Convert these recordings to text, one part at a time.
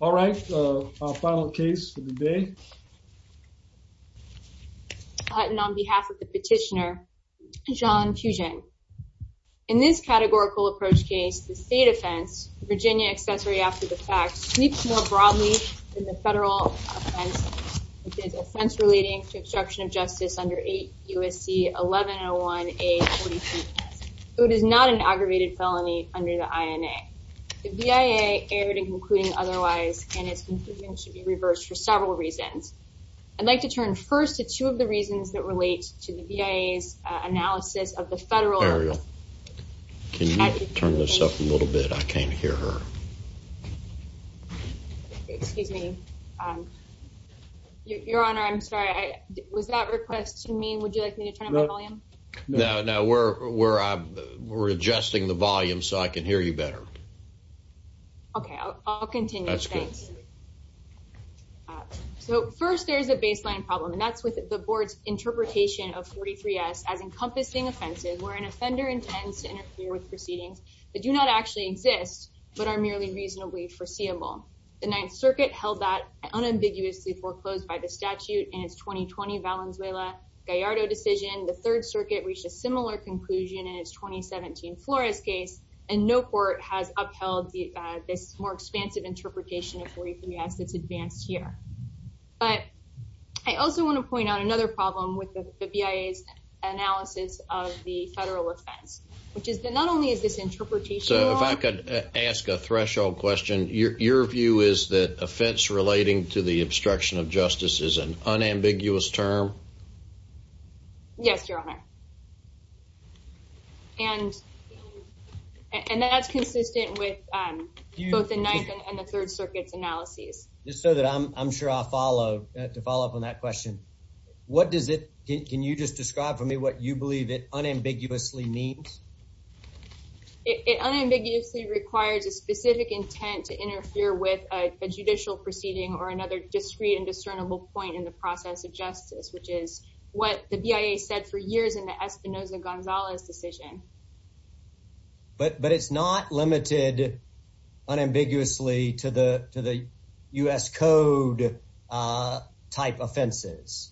All right, our final case for the day. On behalf of the petitioner, John Pugin. In this categorical approach case, the state offense, Virginia accessory after the fact, sleeps more broadly than the federal offense, which is offense relating to obstruction of justice under 8 U.S.C. 1101-A-42. It is not an aggravated felony under the INA. The BIA erred in concluding otherwise and its conclusion should be reversed for several reasons. I'd like to turn first to two of the reasons that relate to the BIA's analysis of the federal. Can you turn this up a little bit? I can't hear her. Excuse me. Your honor, I'm sorry. Was that request to me? Would you where we're adjusting the volume so I can hear you better? Okay, I'll continue. So first, there's a baseline problem, and that's with the board's interpretation of 43 S as encompassing offenses where an offender intends to interfere with proceedings that do not actually exist, but are merely reasonably foreseeable. The Ninth Circuit held that unambiguously foreclosed by the statute in its 2020 Valenzuela-Gallardo decision. The Third Circuit reached a similar conclusion in its 2017 Flores case, and no court has upheld this more expansive interpretation of 43 S this advanced year. But I also want to point out another problem with the BIA's analysis of the federal offense, which is that not only is this interpretation. So if I could ask a threshold question, your view is that offense relating to the obstruction of justice is an unambiguous term? Yes, your honor. And that's consistent with both the Ninth and the Third Circuit's analyses. Just so that I'm sure I'll follow, to follow up on that question, what does it, can you just describe for me what you believe it unambiguously means? It unambiguously requires a specific intent to interfere with a judicial proceeding or another discreet and discernible point in the process of justice, which is what the BIA said for years in the Espinoza-Gonzalez decision. But it's not limited unambiguously to the U.S. Code-type offenses,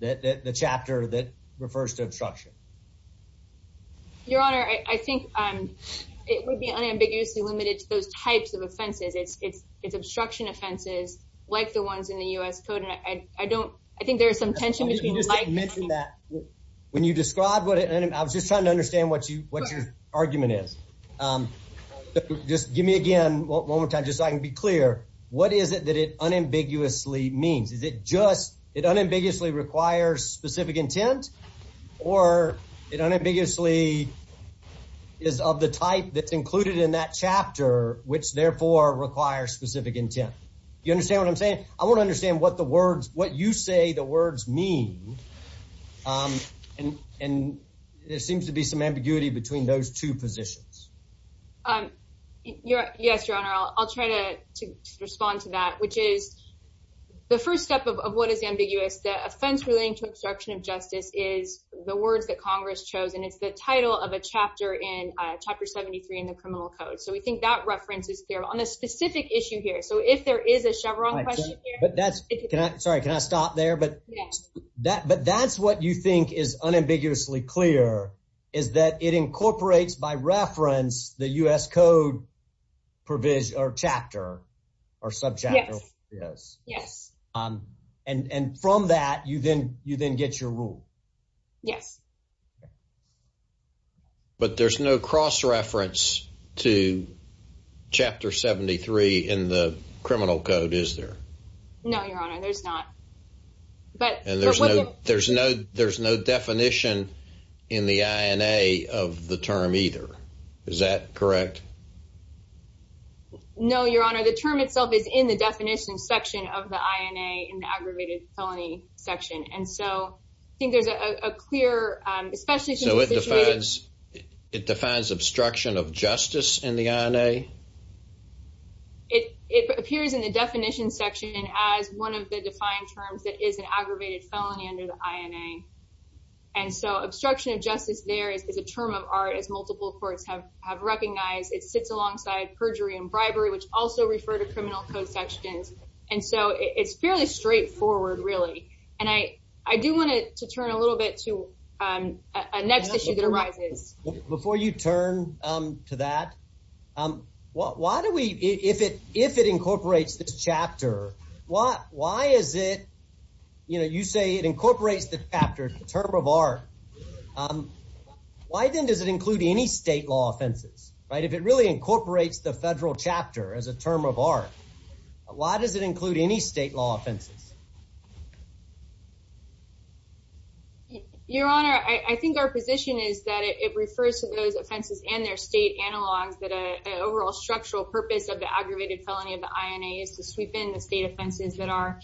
the chapter that refers to obstruction. Your honor, I think it would be unambiguously limited to those types of offenses. It's obstruction offenses like the ones in the U.S. Code, and I don't, I think there's some tension between like- You just didn't mention that. When you describe what it, I was just trying to understand what your argument is. Just give me again, one more time, just so I can be clear. What is it that it unambiguously means? Is it just, it unambiguously requires specific intent, or it unambiguously is of the type that's included in that chapter, which therefore requires specific intent? You understand what I'm saying? I want to understand what the words, what you say the words mean, and there seems to be some ambiguity between those two positions. Um, yes, your honor. I'll try to respond to that, which is the first step of what is ambiguous. The offense relating to obstruction of justice is the words that Congress chose, and it's the title of a chapter in chapter 73 in the criminal code. So we think that reference is there on a specific issue here. So if there is a Chevron question here- But that's, can I, sorry, can I stop there? But that's what you think is unambiguously clear, is that it incorporates, by reference, the U.S. Code provision, or chapter, or sub-chapter. Yes. And from that, you then get your rule. Yes. But there's no cross-reference to chapter 73 in the criminal code, is there? No, your honor, there's not. But- And there's no, there's no, there's no definition in the INA of the term either. Is that correct? No, your honor. The term itself is in the definition section of the INA, in the aggravated felony section. And so, I think there's a clear, especially- So it defines, it defines obstruction of justice in the INA? It, it appears in the definition section as one of the defined terms that is an aggravated felony under the INA. And so, obstruction of justice there is a term of art, as multiple courts have, have recognized. It sits alongside perjury and bribery, which also refer to criminal code sections. And so, it's fairly straightforward, really. And I, I do want to turn a little bit to a next issue that arises. Before you turn to that, why, why do we, if it, if it incorporates this chapter, why, why is it, you know, you say it incorporates the chapter, the term of art. Why then does it include any state law offenses, right? If it really incorporates the federal chapter as a term of art, why does it include any state law offenses? Your honor, I, I think our position is that it refers to those offenses and their state analogs that a, an overall structural purpose of the aggravated felony of the INA is to sweep in the state offenses that are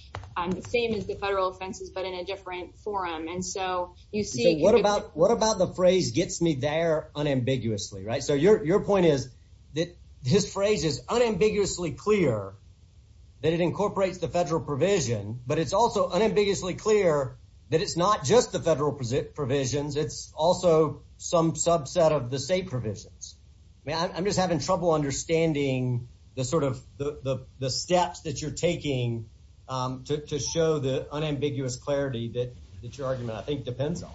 the same as the federal offenses, but in a different forum. And so, you see- So what about, what about the phrase gets me there unambiguously, right? So your, your point is that this phrase is unambiguously clear that it incorporates the federal provision, but it's also unambiguously clear that it's not just the federal provisions. It's also some subset of the state provisions. I mean, I'm just having trouble understanding the sort of, the, the, the steps that you're taking to, to show the unambiguous clarity that, that your argument, I think depends on.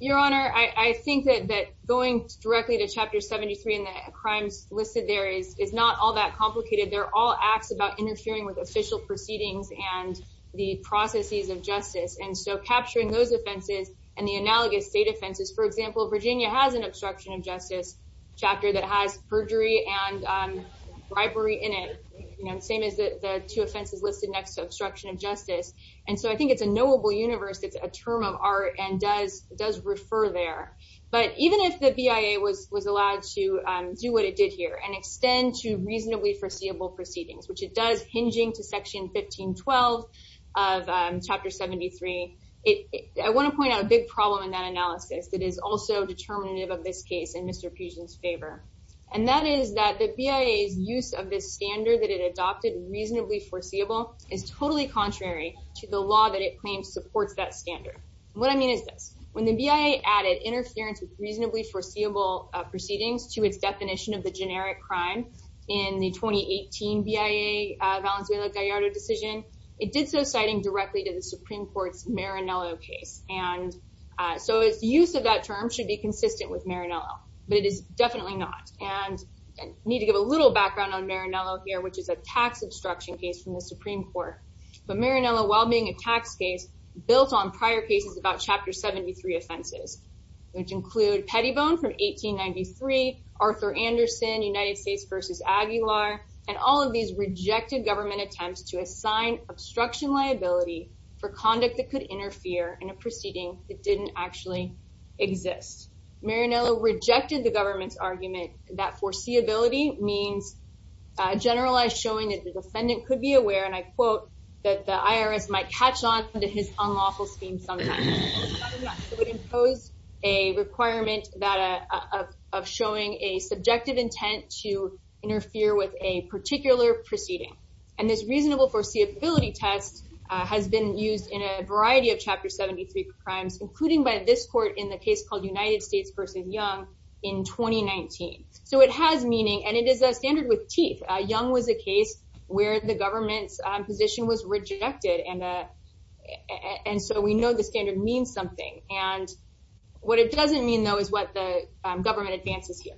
Your honor, I, I think that, that going directly to chapter 73 and the crimes listed there is, is not all that complicated. They're all acts about interfering with official proceedings and the processes of justice. And so, capturing those offenses and the analogous state offenses, for example, Virginia has an obstruction of justice chapter that has perjury and bribery in it, you know, same as the, the two offenses listed next to obstruction of justice. And so, I think it's a knowable universe. It's a term of art and does, does refer there. But even if the BIA was, was allowed to do what it did here and extend to reasonably foreseeable proceedings, which it does hinging to section 1512 of chapter 73, it, I want to point out a big problem in that analysis that is also determinative of this case in Mr. Pugin's favor. And that is that the BIA's use of this standard that it adopted reasonably foreseeable is totally contrary to the law that it claims supports that standard. What I mean is this, when the BIA added interference with reasonably foreseeable proceedings to its definition of the generic crime in the 2018 BIA Valenzuela-Gallardo decision, it did so citing directly to the Supreme Court's Marinello case. And so, its use of that term should be consistent with Marinello, but it is definitely not. And I need to give a little background on Marinello here, which is a tax obstruction case from the Supreme Court. But Marinello, while being a tax case, built on prior cases about chapter 73 offenses, which include Pettibone from 1893, Arthur Anderson, United States v. Aguilar, and all of these rejected government attempts to assign obstruction liability for conduct that could interfere in a proceeding that didn't actually exist. Marinello rejected the government's argument that foreseeability means generalized showing that the defendant could be aware, and I quote, that the IRS might catch on to his unlawful sometimes. It would impose a requirement of showing a subjective intent to interfere with a particular proceeding. And this reasonable foreseeability test has been used in a variety of chapter 73 crimes, including by this court in the case called United States v. Young in 2019. So, it has meaning, and it is a standard with teeth. Young was a case where the government's position was rejected, and so we know the standard means something. And what it doesn't mean, though, is what the government advances here.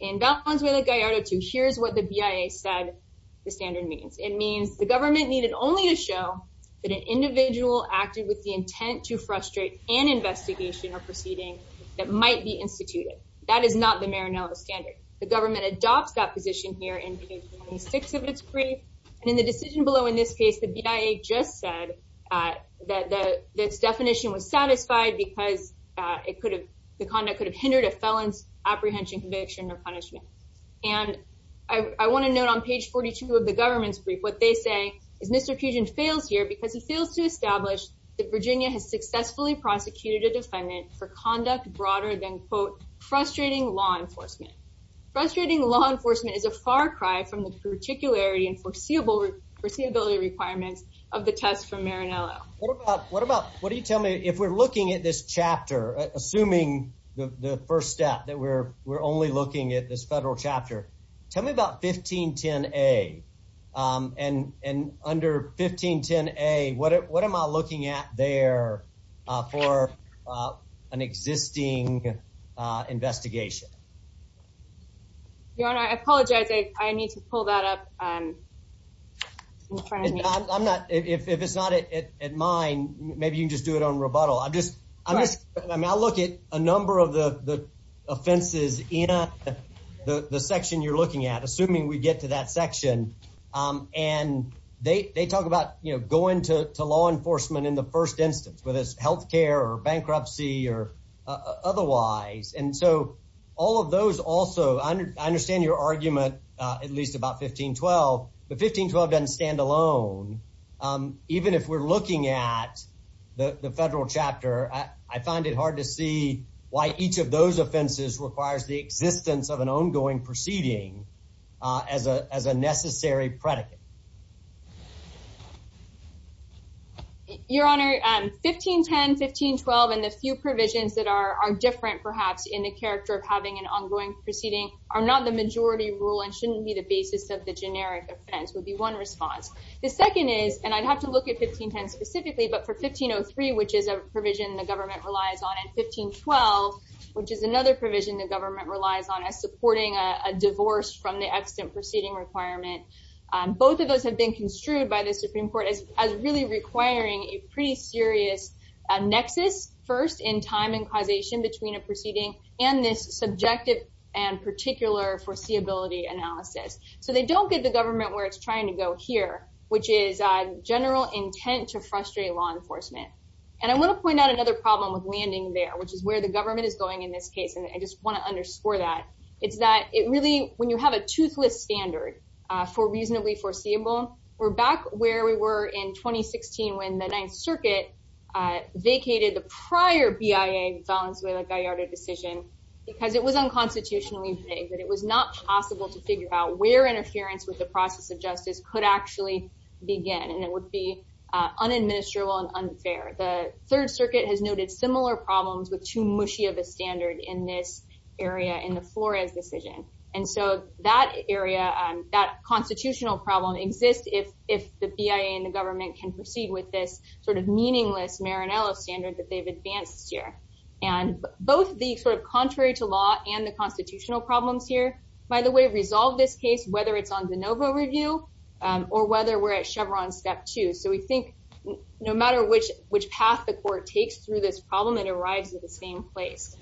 In Valenzuela-Gallardo 2, here's what the BIA said the standard means. It means the government needed only to show that an individual acted with the intent to frustrate an investigation or proceeding that might be instituted. That is not the Marinello standard. The government adopts that position here in page 26 of its brief, and in the decision below in this case, the BIA just said that this definition was satisfied because the conduct could have hindered a felon's apprehension, conviction, or punishment. And I want to note on page 42 of the government's brief, what they say is Mr. Fusion fails here because he fails to establish that Virginia has successfully prosecuted a defendant for conduct broader than, quote, frustrating law enforcement. Frustrating law enforcement is a far cry from the reticularity and foreseeability requirements of the test from Marinello. What about, what do you tell me, if we're looking at this chapter, assuming the first step, that we're only looking at this federal chapter, tell me about 1510A. And under 1510A, what am I looking at there for an existing investigation? Your Honor, I apologize. I need to pull that up in front of me. I'm not, if it's not at mine, maybe you can just do it on rebuttal. I'm just, I'm not looking at a number of the offenses in the section you're looking at, assuming we get to that section. And they talk about, you know, going to law enforcement in the first instance, whether it's also, I understand your argument, at least about 1512, but 1512 doesn't stand alone. Even if we're looking at the federal chapter, I find it hard to see why each of those offenses requires the existence of an ongoing proceeding as a necessary predicate. Your Honor, 1510, 1512, and the few provisions that are different perhaps in the character of an ongoing proceeding are not the majority rule and shouldn't be the basis of the generic offense, would be one response. The second is, and I'd have to look at 1510 specifically, but for 1503, which is a provision the government relies on, and 1512, which is another provision the government relies on as supporting a divorce from the extant proceeding requirement, both of those have been construed by the Supreme Court as really requiring a pretty serious nexus, first in time and objective and particular foreseeability analysis. So, they don't get the government where it's trying to go here, which is general intent to frustrate law enforcement. And I want to point out another problem with landing there, which is where the government is going in this case, and I just want to underscore that. It's that it really, when you have a toothless standard for reasonably foreseeable, we're back where we were in 2016 when the Ninth Circuit vacated the Constitution. It was unconstitutionally vague that it was not possible to figure out where interference with the process of justice could actually begin, and it would be unadministerable and unfair. The Third Circuit has noted similar problems with too mushy of a standard in this area in the Flores decision. And so, that area, that constitutional problem exists if the BIA and the government can proceed with this sort of meaningless Maranello standard that they've the constitutional problems here, by the way, resolve this case, whether it's on de novo review or whether we're at Chevron step two. So, we think no matter which path the court takes through this problem, it arrives at the same place.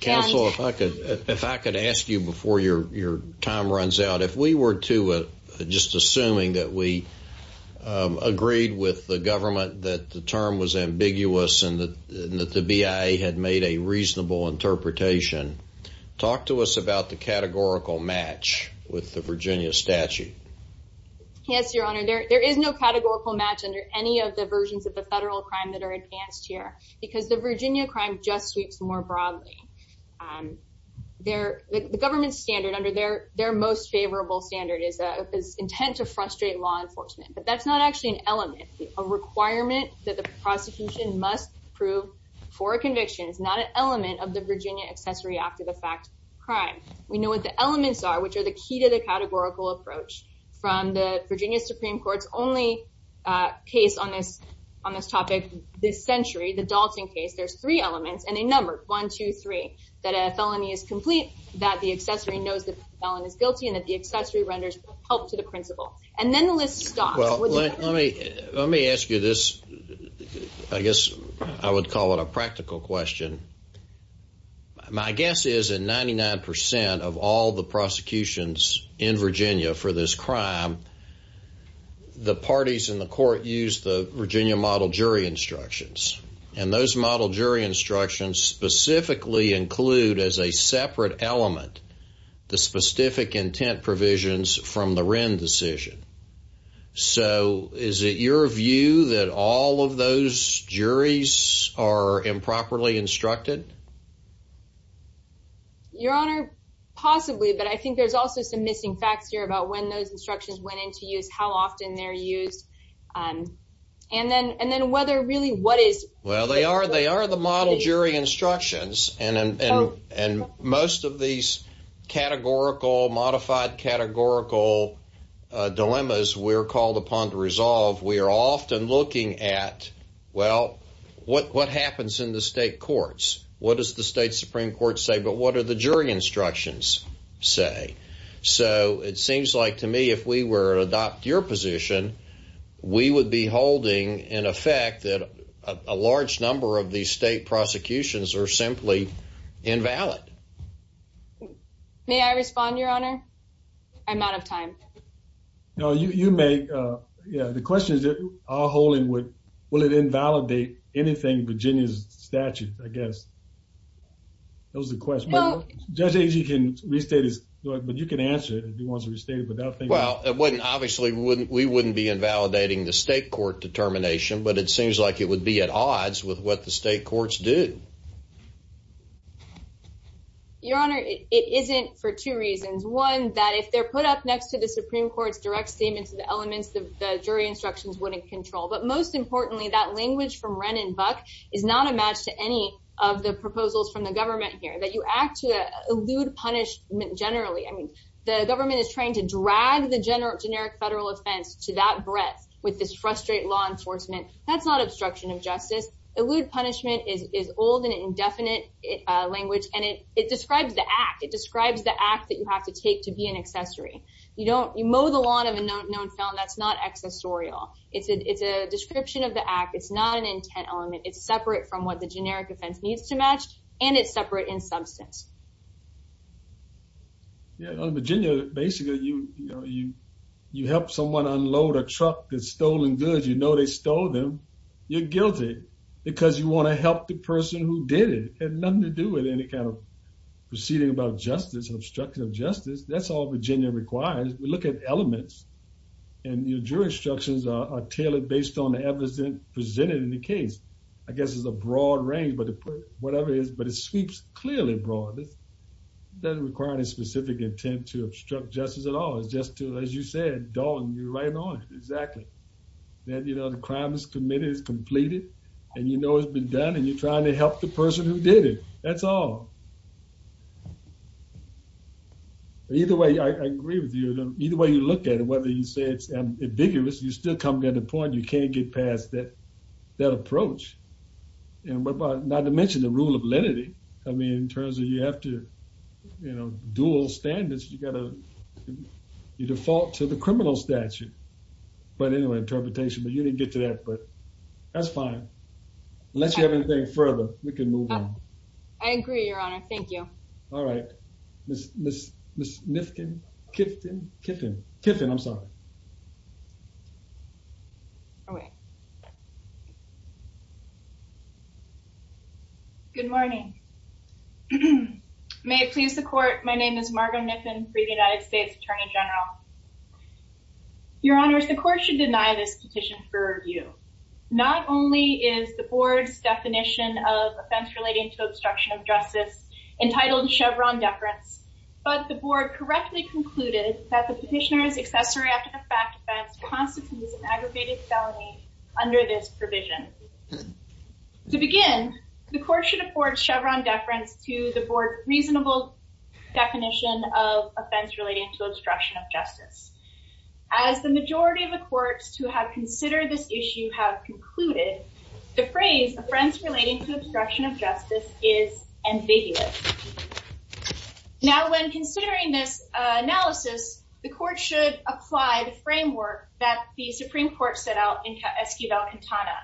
Counsel, if I could ask you before your time runs out, if we were to just assuming that we agreed with the government that the term was ambiguous and that the BIA had made a reasonable interpretation, talk to us about the categorical match with the Virginia statute. Yes, Your Honor, there is no categorical match under any of the versions of the federal crime that are advanced here, because the Virginia crime just sweeps more broadly. The government's standard under their most favorable standard is intent to frustrate law enforcement, but that's not actually an element, a requirement that the prosecution must prove for a conviction. It's not an element of the Virginia Accessory Act of the fact crime. We know what the elements are, which are the key to the categorical approach from the Virginia Supreme Court's only case on this topic this century, the Dalton case. There's three elements, and they numbered one, two, three, that a felony is complete, that the accessory knows that the felon is guilty, and that the accessory renders help to the principal. And then the list stops. Well, let me ask you this, I guess I would call it a practical question. My guess is that 99 percent of all the prosecutions in Virginia for this crime, the parties in the court use the Virginia model jury instructions, and those model jury instructions specifically include as a separate element the specific intent provisions from the Wren decision. So is it your view that all of those juries are improperly instructed? Your Honor, possibly, but I think there's also some missing facts here about when those instructions went into use, how often they're used, and then whether really what are they? Well, they are the model jury instructions, and most of these categorical, modified categorical dilemmas we're called upon to resolve, we are often looking at, well, what happens in the state courts? What does the state Supreme Court say, but what do the jury instructions say? So it seems like to me if we were to adopt your position, we would be holding in effect that a large number of these state prosecutions are simply invalid. May I respond, Your Honor? I'm out of time. No, you may. Yeah, the question is, will it invalidate anything in Virginia's statutes, I guess. That was the question. Judge Agee can restate it, but you can answer it if you want to restate it. Well, obviously, we wouldn't be invalidating the state court determination, but it seems like it would be at odds with what the state courts do. Your Honor, it isn't for two reasons. One, that if they're put up next to the Supreme Court's direct statements of the elements, the jury instructions wouldn't control. But most importantly, that language from Wren and Buck is not a match to any of the proposals from the government here, that you act to elude punishment generally. The government is trying to drag the generic federal offense to that breadth with this frustrate law enforcement. That's not obstruction of justice. Elude punishment is old and indefinite language, and it describes the act. It describes the act that you have to take to be an accessory. You mow the lawn of a known felon. That's not accessorial. It's a description of the act. It's not an intent element. It's separate from what generic offense needs to match, and it's separate in substance. Your Honor, Virginia, basically, you help someone unload a truck that's stolen goods. You know they stole them. You're guilty because you want to help the person who did it. It had nothing to do with any kind of proceeding about justice, obstruction of justice. That's all Virginia requires. We look at elements, and your jury instructions are tailored based on the evidence presented in the broad range, but whatever it is, but it sweeps clearly broad. It doesn't require any specific intent to obstruct justice at all. It's just to, as you said, darling, you're right on. Exactly. Then, you know, the crime is committed. It's completed, and you know it's been done, and you're trying to help the person who did it. That's all. Either way, I agree with you. Either way you look at it, whether you say it's that approach, and what about, not to mention the rule of lenity. I mean in terms of you have to, you know, dual standards. You gotta, you default to the criminal statute, but anyway, interpretation, but you didn't get to that, but that's fine. Unless you have anything further, we can move on. I agree, your Honor. Thank you. All right. Miss, Miss, Miss Nifkin, Kiffin, Kiffin, Kiffin, I'm sorry. Oh, wait. Good morning. May it please the court, my name is Margo Niffin, for the United States Attorney General. Your Honor, the court should deny this petition for review. Not only is the board's definition of offense relating to obstruction of justice entitled Chevron deference, but the board correctly concluded that the petitioner's accessory after-the-fact offense constitutes an aggravated felony under this provision. To begin, the court should afford Chevron deference to the board's reasonable definition of offense relating to obstruction of justice. As the majority of the courts who have considered this issue have concluded, the phrase offense relating to obstruction of justice is ambiguous. Now, when considering this analysis, the court should apply the framework that the Supreme Court set out in Esquivel-Quintana.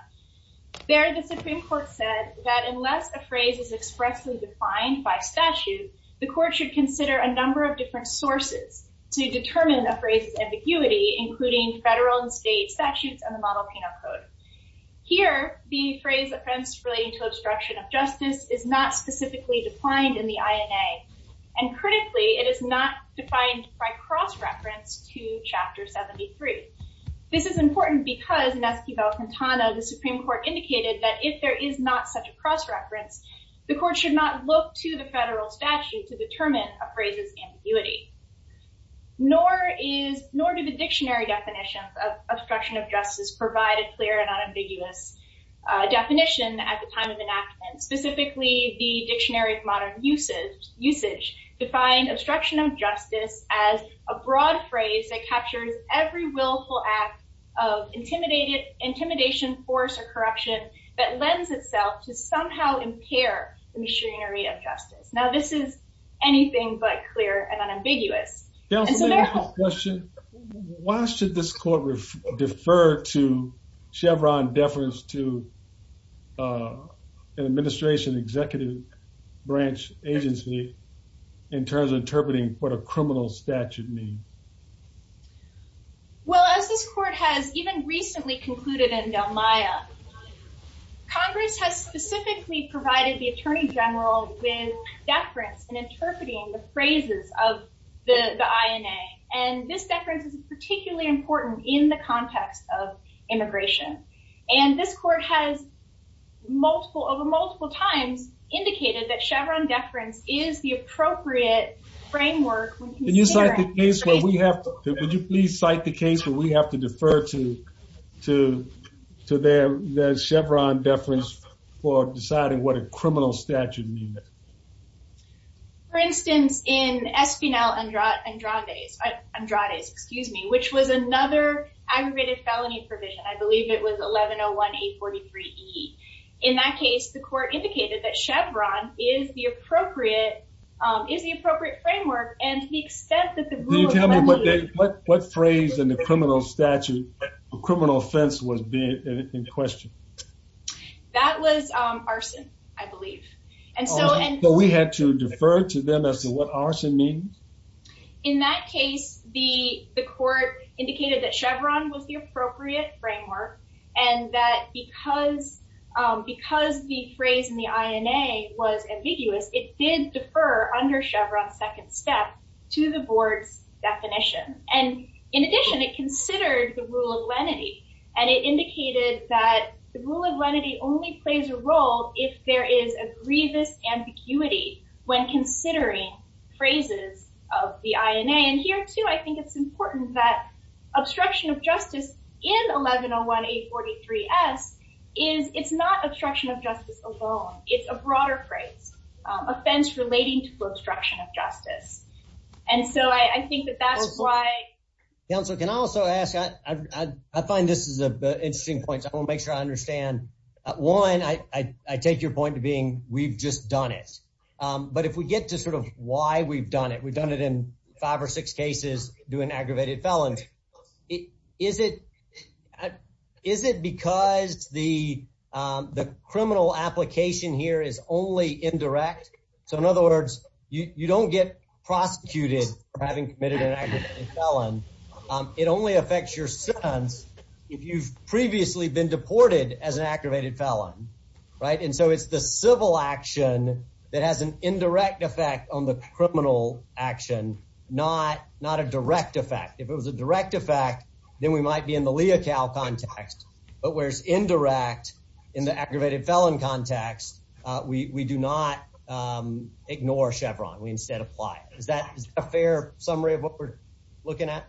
There, the Supreme Court said that unless a phrase is expressly defined by statute, the court should consider a number of different sources to determine a phrase's ambiguity, including federal and state statutes and the model penal code. Here, the phrase offense relating to obstruction of justice is not specifically defined in the INA, and critically, it is not defined by cross-reference to Chapter 73. This is important because in Esquivel-Quintana, the Supreme Court indicated that if there is not such a cross-reference, the court should not look to the federal statute to determine a phrase's ambiguity. Nor do the dictionary definitions of obstruction of justice provide a clear and unambiguous definition at the time of enactment. Specifically, the Dictionary of Modern Usage defined obstruction of justice as a broad phrase that captures every willful act of intimidation, force, or corruption that lends itself to somehow impair the machinery of justice. Now, this is anything but clear and unambiguous. Counsel, may I ask a question? Why should this court defer to Chevron deference to an administration executive branch agency in terms of interpreting what a criminal statute means? Well, as this court has even recently concluded in Del Mayo, Congress has specifically provided the Attorney General with deference in interpreting the phrases of the INA, and this deference is particularly important in the context of immigration. And this court has multiple, over multiple times, indicated that Chevron deference is the appropriate framework. Can you cite the case where we have to, defer to their Chevron deference for deciding what a criminal statute means? For instance, in Espinal Andrades, which was another aggravated felony provision, I believe it was 1101A43E. In that case, the court indicated that Chevron is the appropriate framework, and to the extent that the rule- Do you tell me what phrase in the criminal statute, criminal offense was being questioned? That was arson, I believe. And so- So we had to defer to them as to what arson means? In that case, the court indicated that Chevron was the appropriate framework, and that because the phrase in the INA was ambiguous, it did defer under Chevron's second step to the board's definition. And in addition, it considered the rule of lenity, and it indicated that the rule of lenity only plays a role if there is a grievous ambiguity when considering phrases of the INA. And here too, I think it's important that obstruction of justice in 1101A43S is, it's not obstruction of justice alone. It's a broader phrase, offense relating to obstruction of justice. And so I think that that's why- Counselor, can I also ask, I find this is an interesting point, so I want to make sure I understand. One, I take your point to being, we've just done it. But if we get to sort of why we've done it, we've done it in five or six cases doing aggravated felons. Is it because the criminal application here is only indirect? So in other words, you don't get prosecuted for having committed an aggravated felon. It only affects your sons if you've previously been deported as an aggravated felon, right? And so it's the civil action that has an indirect effect on the criminal action, not a direct effect. If it was a direct effect, then we might be in the Leocal context. But where it's indirect in the aggravated felon context, we do not ignore Chevron. We instead apply it. Is that a fair summary of what we're looking at?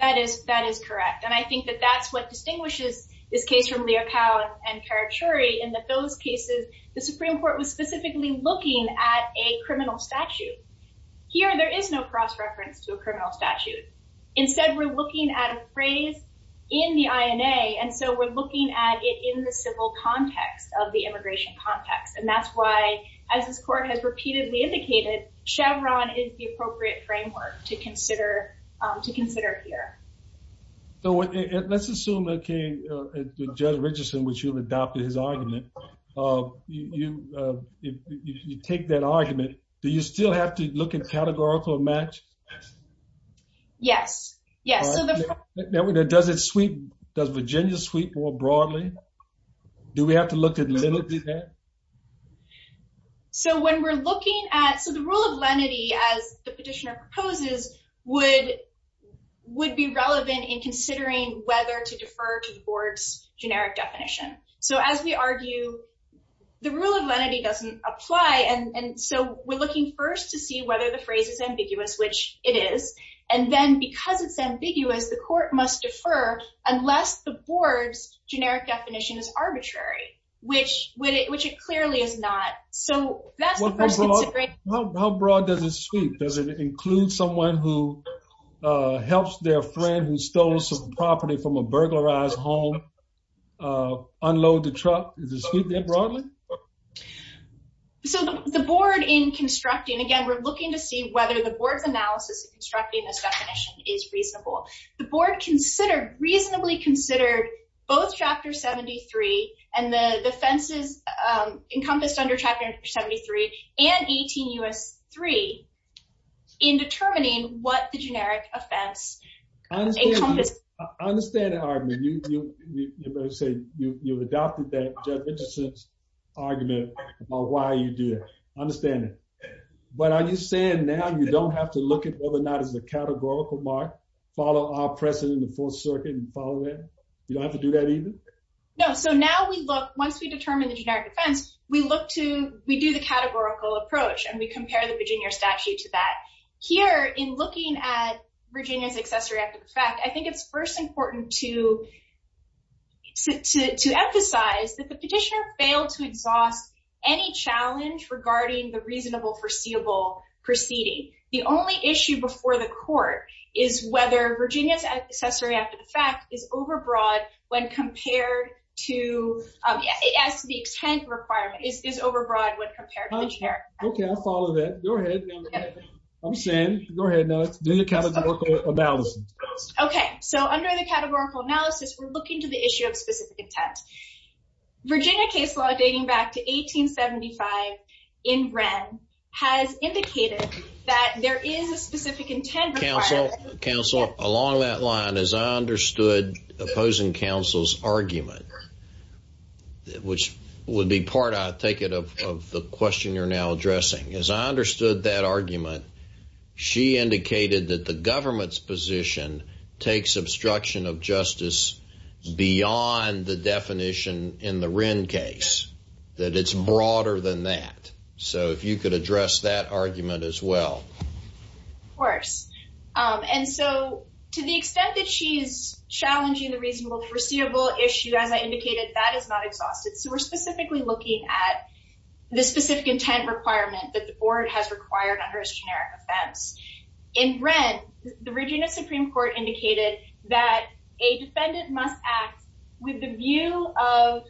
That is correct. And I think that that's what distinguishes this case from Leocal and Karachuri. In those cases, the Supreme Court was specifically looking at a criminal statute. Here, there is no cross-reference to a criminal statute. Instead, we're looking at a phrase in the INA. And so we're looking at it in the civil context of the immigration context. And that's why, as this court has repeatedly indicated, Chevron is the appropriate framework to consider here. So let's assume, okay, Judge Richardson, which you've adopted his argument, you take that argument. Do you still have to look in categorical match? Yes, yes. Does Virginia sweep more broadly? Do we have to look at lenity there? So when we're looking at, so the rule of lenity, as the petitioner proposes, would be relevant in considering whether to defer to the board's generic definition. So as we argue, the rule of lenity doesn't apply. And so we're looking first to see whether the phrase is ambiguous, which it is. And then because it's ambiguous, the court must defer unless the board's generic definition is arbitrary, which it clearly is not. So that's the first consideration. How broad does it sweep? Does it include someone who helps their friend who stole some property from a burglarized home unload the truck? Does it sweep that broadly? So the board in constructing, again, we're looking to see whether the board's analysis of constructing this definition is reasonable. The board reasonably considered both Chapter 73 and the offenses encompassed under Chapter 73 and 18 U.S. 3 in determining what the generic offense encompassed. I understand the argument. You've adopted that argument about why you do it. I understand it. But are you saying now you don't have to look at whether or not it's a categorical mark, follow our precedent in the Fourth Circuit and follow it? You don't have to do that either? No. So now we look, once we determine the generic offense, we do the categorical approach and we compare the Virginia statute to that. Here, in looking at Virginia's accessory after the fact, I think it's first important to emphasize that the petitioner failed to exhaust any challenge regarding the reasonable foreseeable proceeding. The only issue before the court is whether Virginia's accessory after the fact is overbroad when compared to, as to the intent requirement, is overbroad when compared to the generic. Okay. I'll follow that. Go ahead. I'm saying, go ahead now, do the categorical analysis. Okay. So under the categorical analysis, we're looking to the issue of specific intent. Virginia case law dating back to 1875 in Wren has indicated that there is a specific intent requirement. Counsel, along that line, as I understood opposing counsel's argument, which would be part, I take it, of the question you're now addressing. As I understood that argument, she indicated that the government's position takes obstruction of justice beyond the definition in the Wren case, that it's broader than that. So if you could address that argument as well. Of course. And so to the extent that she's challenging the reasonable foreseeable issue, as I indicated, that is not exhausted. So we're specifically looking at the specific intent requirement that the board has required under its generic offense. In Wren, the Virginia Supreme Court indicated that a defendant must act with the view of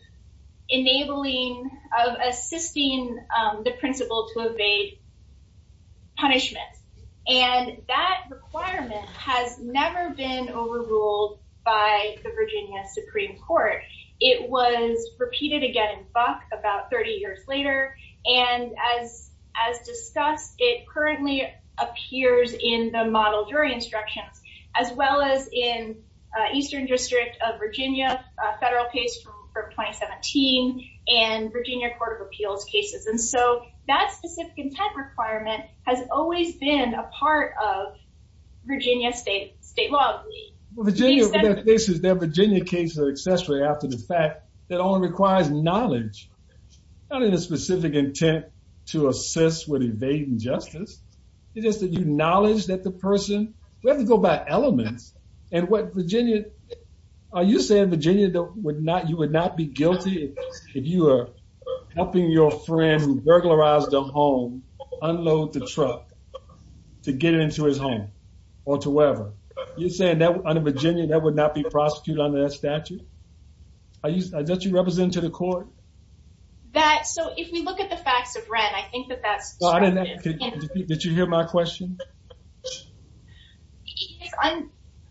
enabling, of assisting the principal to evade punishment. And that requirement has never been overruled by the Virginia Supreme Court. It was repeated again in Buck about 30 years later. And as discussed, it currently appears in the model jury instructions, as well as in Eastern District of Virginia, a federal case from 2017, and Virginia Court of Appeals cases. And so that specific intent requirement has always been a part of Virginia state law. Virginia cases are intent to assist with evading justice. It is that you acknowledge that the person, we have to go by elements. And what Virginia, are you saying Virginia would not, you would not be guilty if you are helping your friend who burglarized their home unload the truck to get into his home or to wherever? You're saying that under Virginia, that would not be prosecuted under that statute? That you represent to the court? That, so if we look at the facts of Wren, I think that that's- Did you hear my question?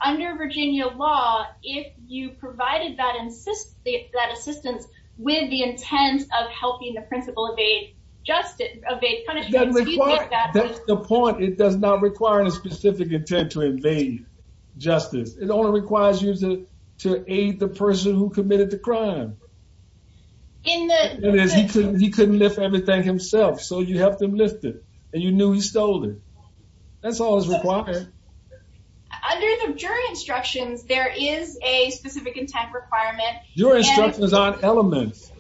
Under Virginia law, if you provided that assistance with the intent of helping the principal evade justice, evade punishment- That's the point. It does not require any specific intent to evade justice. It only requires you to aid the person who committed the crime. In the- He couldn't lift everything himself, so you helped him lift it. And you knew he stole it. That's all that's required. Under the jury instructions, there is a specific intent requirement. Your instructions aren't elements.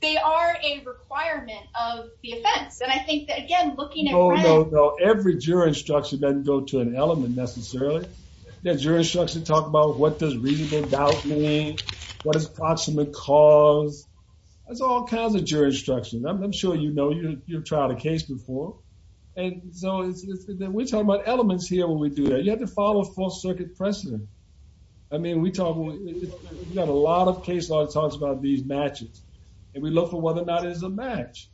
They are a requirement of the offense. And I think that, again, looking at Wren- No, no, no. Every jury instruction doesn't go to an element necessarily. The jury instructions talk about what does reasonable doubt mean, what is approximate cause. There's all kinds of jury instructions. I'm sure you know. You've tried a case before. And so, we're talking about elements here when we do that. You have to follow full circuit precedent. I mean, we talk, we've got a lot of case law that talks about these matches. And we look for whether or not it's a match.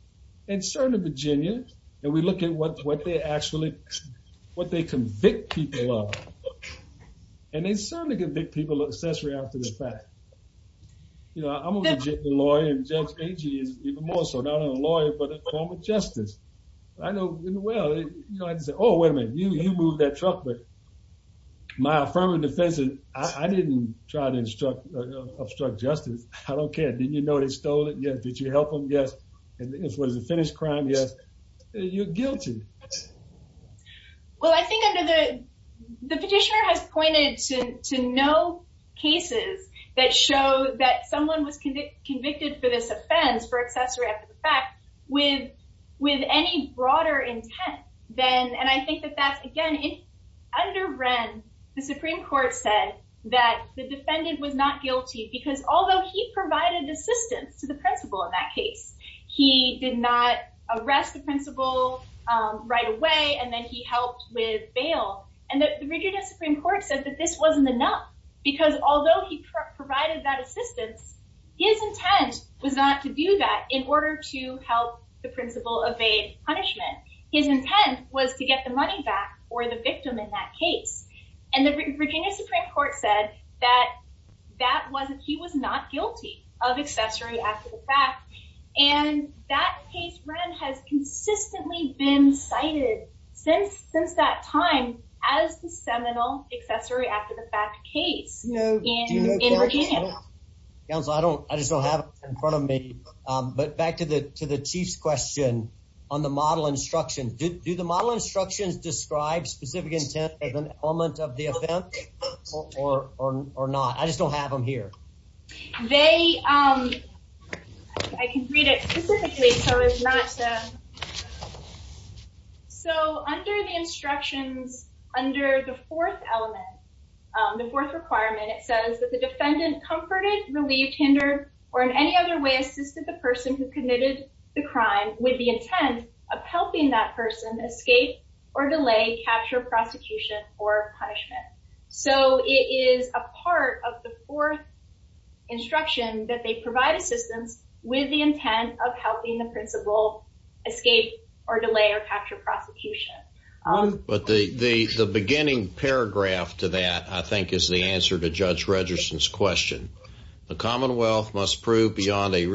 And certainly, Virginia, and we look at what they actually, what they convict people of. And they certainly convict people of accessory after the fact. You know, I'm a legitimate lawyer, and Judge Agee is even more so, not only a lawyer, but a former justice. I know, well, you know, I'd say, oh, wait a minute, you moved that truck. But my affirmative defense is, I didn't try to obstruct justice. I don't care. Didn't you steal it? Yes. Did you help him? Yes. And was it a finished crime? Yes. You're guilty. Well, I think under the, the petitioner has pointed to no cases that show that someone was convicted for this offense, for accessory after the fact, with any broader intent than, and I think that that's, again, under Wren, the Supreme Court said that the defendant was not to the principal in that case. He did not arrest the principal right away, and then he helped with bail. And the Virginia Supreme Court said that this wasn't enough, because although he provided that assistance, his intent was not to do that in order to help the principal evade punishment. His intent was to get the money back, or the victim in that case. And the Virginia Supreme Court said that that wasn't, he was not guilty of accessory after the fact. And that case, Wren, has consistently been cited since, since that time as the seminal accessory after the fact case. Counsel, I don't, I just don't have it in front of me. But back to the, to the chief's question on the model instructions. Do the model instructions describe specific intent as an element of the offense, or not? I just don't have them here. They, I can read it specifically, so it's not, so under the instructions, under the fourth element, the fourth requirement, it says that the defendant comforted, relieved, hindered, or in any other way assisted the person who committed the crime with the intent of helping that person escape or delay capture prosecution. Or punishment. So it is a part of the fourth instruction that they provide assistance with the intent of helping the principal escape or delay or capture prosecution. But the, the, the beginning paragraph to that, I think, is the answer to Judge Regerson's question. The Commonwealth must prove beyond a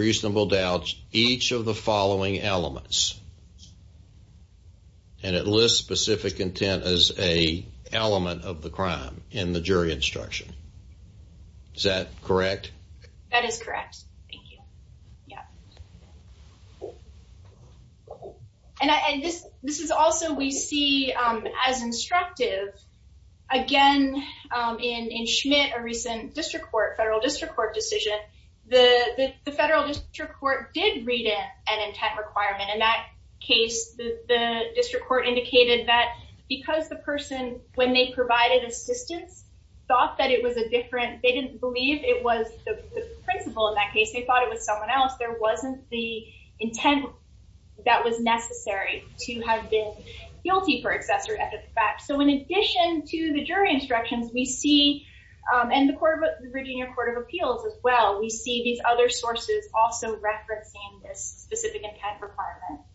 crime in the jury instruction. Is that correct? That is correct. Thank you. Yeah. And I, and this, this is also we see as instructive. Again, in, in Schmidt, a recent district court, federal district court decision, the, the federal district court did read it an intent requirement. In that case, the district court indicated that because the person, when they provided assistance, thought that it was a different, they didn't believe it was the principal in that case. They thought it was someone else. There wasn't the intent that was necessary to have been guilty for accessory, as a fact. So in addition to the jury instructions, we see, and the court of, the Virginia Court of Appeals as well, we see these other sources also referencing this specific intent requirement.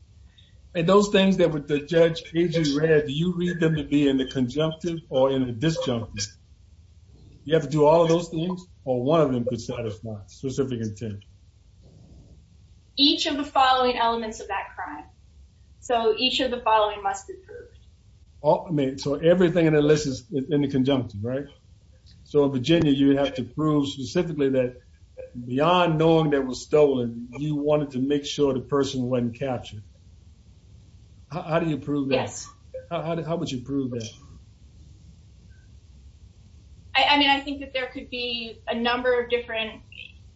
And those things that were, that Judge KG read, do you need them to be in the conjunctive or in the disjunctive? You have to do all of those things, or one of them could satisfy a specific intent? Each of the following elements of that crime. So each of the following must be proved. Oh, I mean, so everything in the list is in the conjunctive, right? So in Virginia, you would have to prove specifically that beyond knowing that it was stolen, you wanted to make sure the person wasn't captured. How do you prove that? Yes. How would you prove that? I mean, I think that there could be a number of different,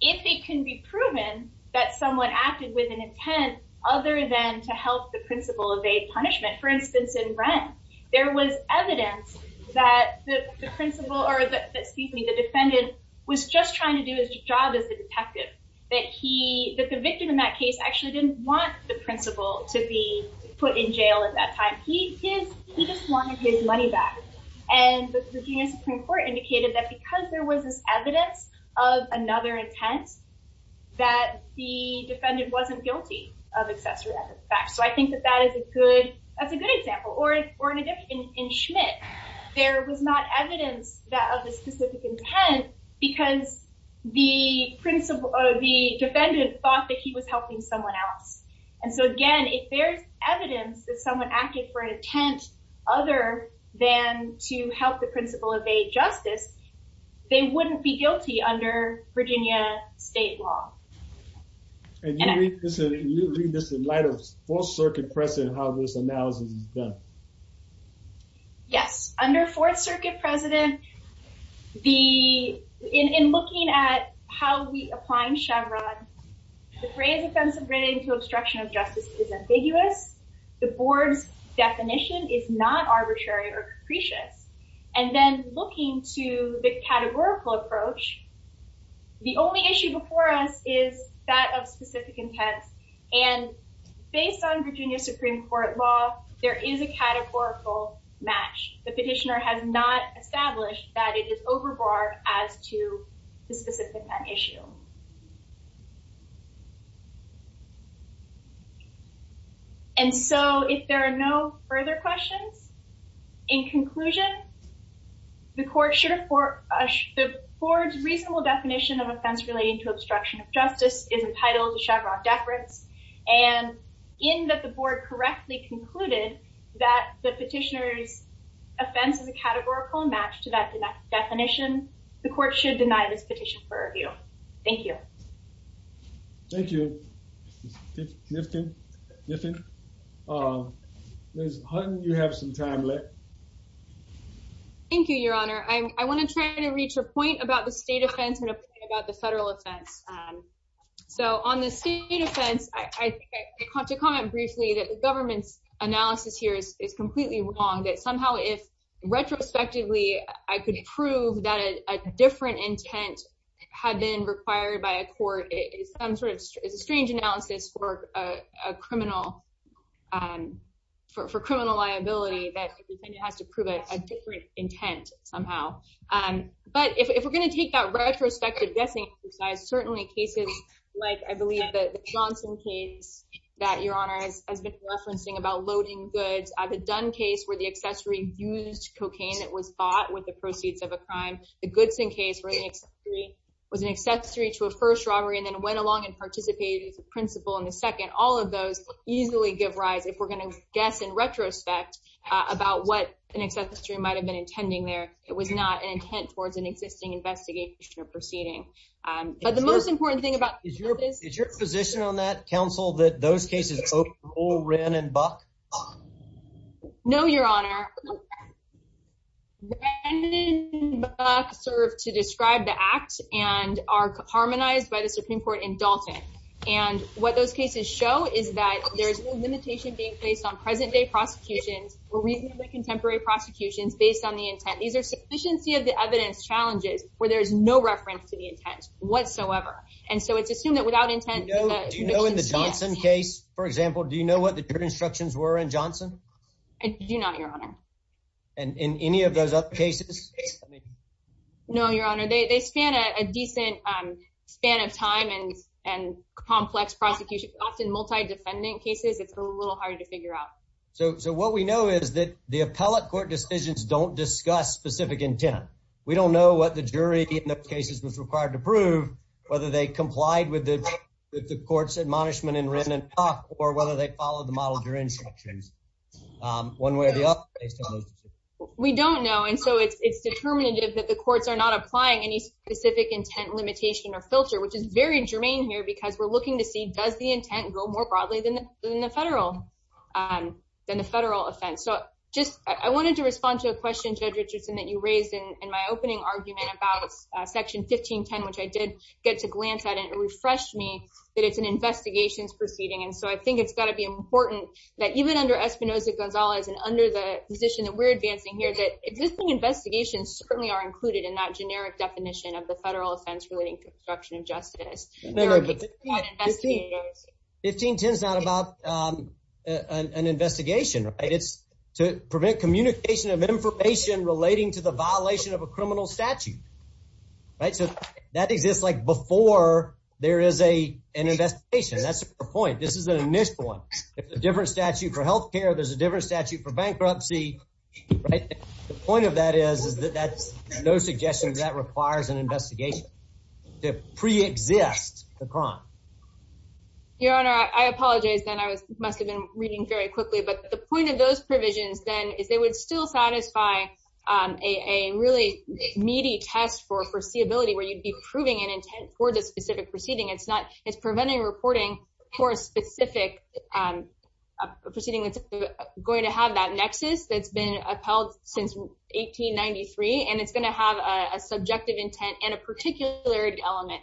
if it can be proven that someone acted with an intent other than to help the principal evade punishment. For instance, in Brent, there was evidence that the principal, or excuse me, the defendant was just trying to do his job as a detective, that the victim in that case actually didn't want the principal to be put in jail at that time. He just wanted his money back. And the Virginia Supreme Court indicated that because there was this evidence of another intent, that the defendant wasn't guilty of accessory evidence of fact. So I think that that's a good example. Or in Schmidt, there was not evidence of a specific intent because the defendant thought that he was helping someone else. And so again, if there's evidence that someone acted for an intent other than to help the principal evade justice, they wouldn't be guilty under Virginia state law. And you read this in light of Fourth Circuit precedent, how this analysis is done. Yes. Under Fourth Circuit precedent, in looking at how we apply in Chevron, the phrase offensive written to obstruction of justice is ambiguous. The board's definition is not arbitrary or capricious. And then looking to the categorical approach, the only issue before is that of specific intent. And based on Virginia Supreme Court law, there is a categorical match. The petitioner has not established that it is overboard as to the specific issue. And so if there are no further questions, in conclusion, the court should afford the board's reasonable definition of offense relating to obstruction of justice is entitled to Chevron deference. And in that the board correctly concluded that the petitioner's offense is a categorical match to that definition, the court should deny this petition for review. Thank you. Thank you. Nifton? Nifton? Ms. Hutton, you have some time left. Thank you, your honor. I want to try to reach a point about the state offense and a point about the federal offense. So on the state offense, I think I have to comment briefly that the government's analysis here is completely wrong, that somehow if retrospectively, I could prove that a different intent had been required by a court, it's some sort of, strange analysis for criminal liability that it has to prove a different intent somehow. But if we're going to take that retrospective guessing exercise, certainly cases like I believe the Johnson case that your honor has been referencing about loading goods, the Dunn case where the accessory used cocaine that was bought with the proceeds of a crime, the Goodson case where the accessory was an accessory to a first robbery and then went along and participated as a principal in the second, all of those easily give rise, if we're going to guess in retrospect, about what an accessory might have been intending there. It was not an intent towards an existing investigation or proceeding. But the most important thing about... Is your position on that, counsel, that those cases overruled Ren and Buck? No, your honor. Ren and Buck serve to describe the act and are harmonized by the Supreme Court in Dalton. And what those cases show is that there's no limitation being placed on present-day prosecutions or reasonably contemporary prosecutions based on the intent. These are sufficiency of the evidence challenges where there's no reference to the intent whatsoever. And so it's assumed that without intent... Do you know in the Johnson case, for example, do you know what the instructions were in Johnson? I do not, your honor. And in any of those other cases? No, your honor. They span a decent span of time and complex prosecution, often multi-defendant cases. It's a little harder to figure out. So what we know is that the appellate court decisions don't discuss specific intent. We don't know what the jury in those cases was required to prove, whether they complied with the court's admonishment in Ren and Buck, or whether they followed the model during instructions. One way or the other, based on those decisions. We don't know. And so it's determinative that the courts are not applying any specific intent limitation or filter, which is very germane here because we're looking to see, does the intent go more broadly than the federal offense? So I wanted to respond to a question, Judge Richardson, that you raised in my opening argument about section 1510, which I did get to glance at and it refreshed me that it's an investigations proceeding. And so I think it's got to be important that even under Espinosa-Gonzalez and under the position that we're advancing here, that existing investigations certainly are included in that generic definition of the federal offense relating to obstruction of justice. 1510 is not about an investigation, right? It's to prevent communication of information relating to the violation of a criminal statute, right? So that exists before there is an investigation. That's the point. This is an initial one. If there's a different statute for health care, there's a different statute for bankruptcy, right? The point of that is that there's no suggestion that requires an investigation to pre-exist the crime. Your Honor, I apologize then. I must have been reading very quickly. But the point of those is that they don't satisfy a really meaty test for foreseeability where you'd be proving an intent for the specific proceeding. It's preventing reporting for a specific proceeding that's going to have that nexus that's been upheld since 1893, and it's going to have a subjective intent and a particular element.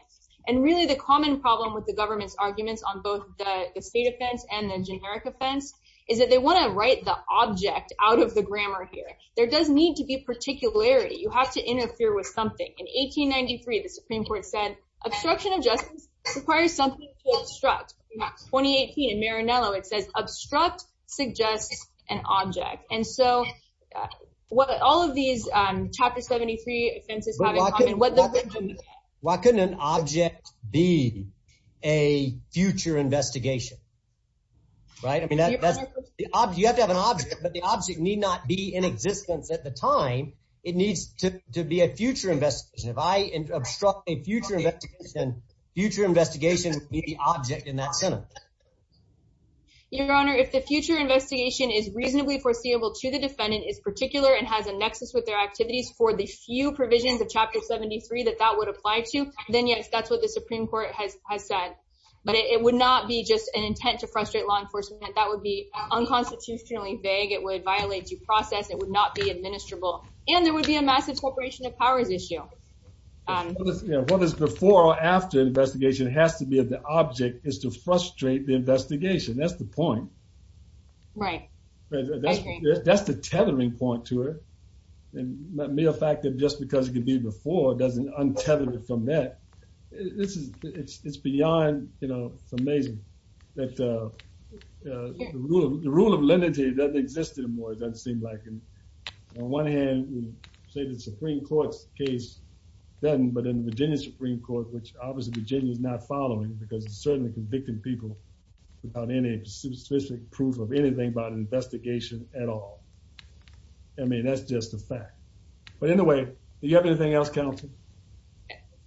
And really the common problem with the government's arguments on both the state offense and the generic offense is that they want to write the object out of the answer. There does need to be particularity. You have to interfere with something. In 1893, the Supreme Court said obstruction of justice requires something to obstruct. In 2018, in Marinello, it says obstruct suggests an object. And so what all of these chapter 73 offenses have in common, what does that mean? Why couldn't an object be a future investigation? You have to have an object, but the object need not be in existence at the time. It needs to be a future investigation. If I obstruct a future investigation, future investigation would be the object in that sentence. Your Honor, if the future investigation is reasonably foreseeable to the defendant, is particular, and has a nexus with their activities for the few provisions of chapter 73 that that would apply to, then yes, that's what the Supreme Court has said. But it would not be just an intent to frustrate law enforcement. That would be unconstitutionally vague. It would violate due process. It would not be administrable. And there would be a massive corporation of powers issue. What is before or after investigation has to be the object is to frustrate the investigation. That's the point. Right. That's the tethering point to it. And mere fact that just because it could be before doesn't untether it from that. This is, it's beyond, you know, it's amazing that the rule of limited doesn't exist anymore, it doesn't seem like. And on one hand, we say the Supreme Court's case doesn't, but in the Virginia Supreme Court, which obviously Virginia is not following because it's certainly convicting people without any specific proof of anything about an investigation at all. I mean, that's just a fact. But anyway, do you have anything else, counsel?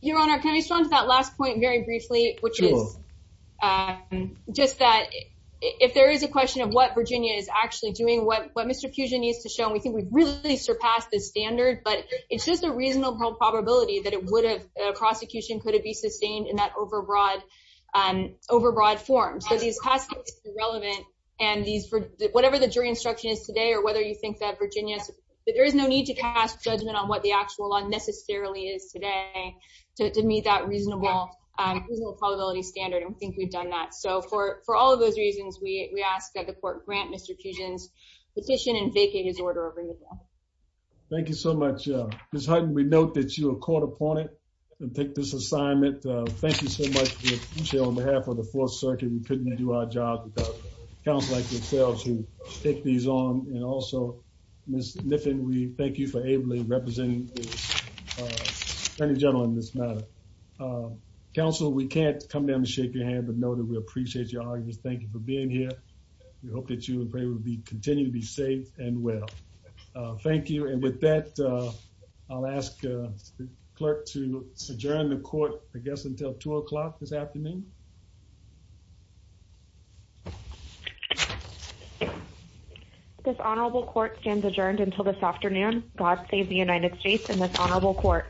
Your Honor, can I just run to that last point very briefly, which is just that if there is a question of what Virginia is actually doing, what Mr. Fusion needs to show, and we think we've really surpassed the standard, but it's just a reasonable probability that it would have, prosecution could have be sustained in that overbroad form. So these past cases are relevant and these, whatever the jury instruction is today or whether you think that Virginia, there is no need to cast judgment on what the actual law necessarily is today to meet that reasonable probability standard. And we think we've done that. So for all of those reasons, we ask that the court grant Mr. Fusion's petition and vacate his order of renewal. Thank you so much. Ms. Hutton, we note that you are caught upon it and take this assignment. Thank you so much, Chair, on behalf of the Fourth Circuit. We also, Ms. Niffen, we thank you for ably representing the attorney general in this matter. Counsel, we can't come down and shake your hand, but know that we appreciate your arguments. Thank you for being here. We hope that you and pray we will continue to be safe and well. Thank you. And with that, I'll ask the clerk to adjourn the court, I guess, until two o'clock this afternoon. This honorable court stands adjourned until this afternoon. God save the United States and this honorable court.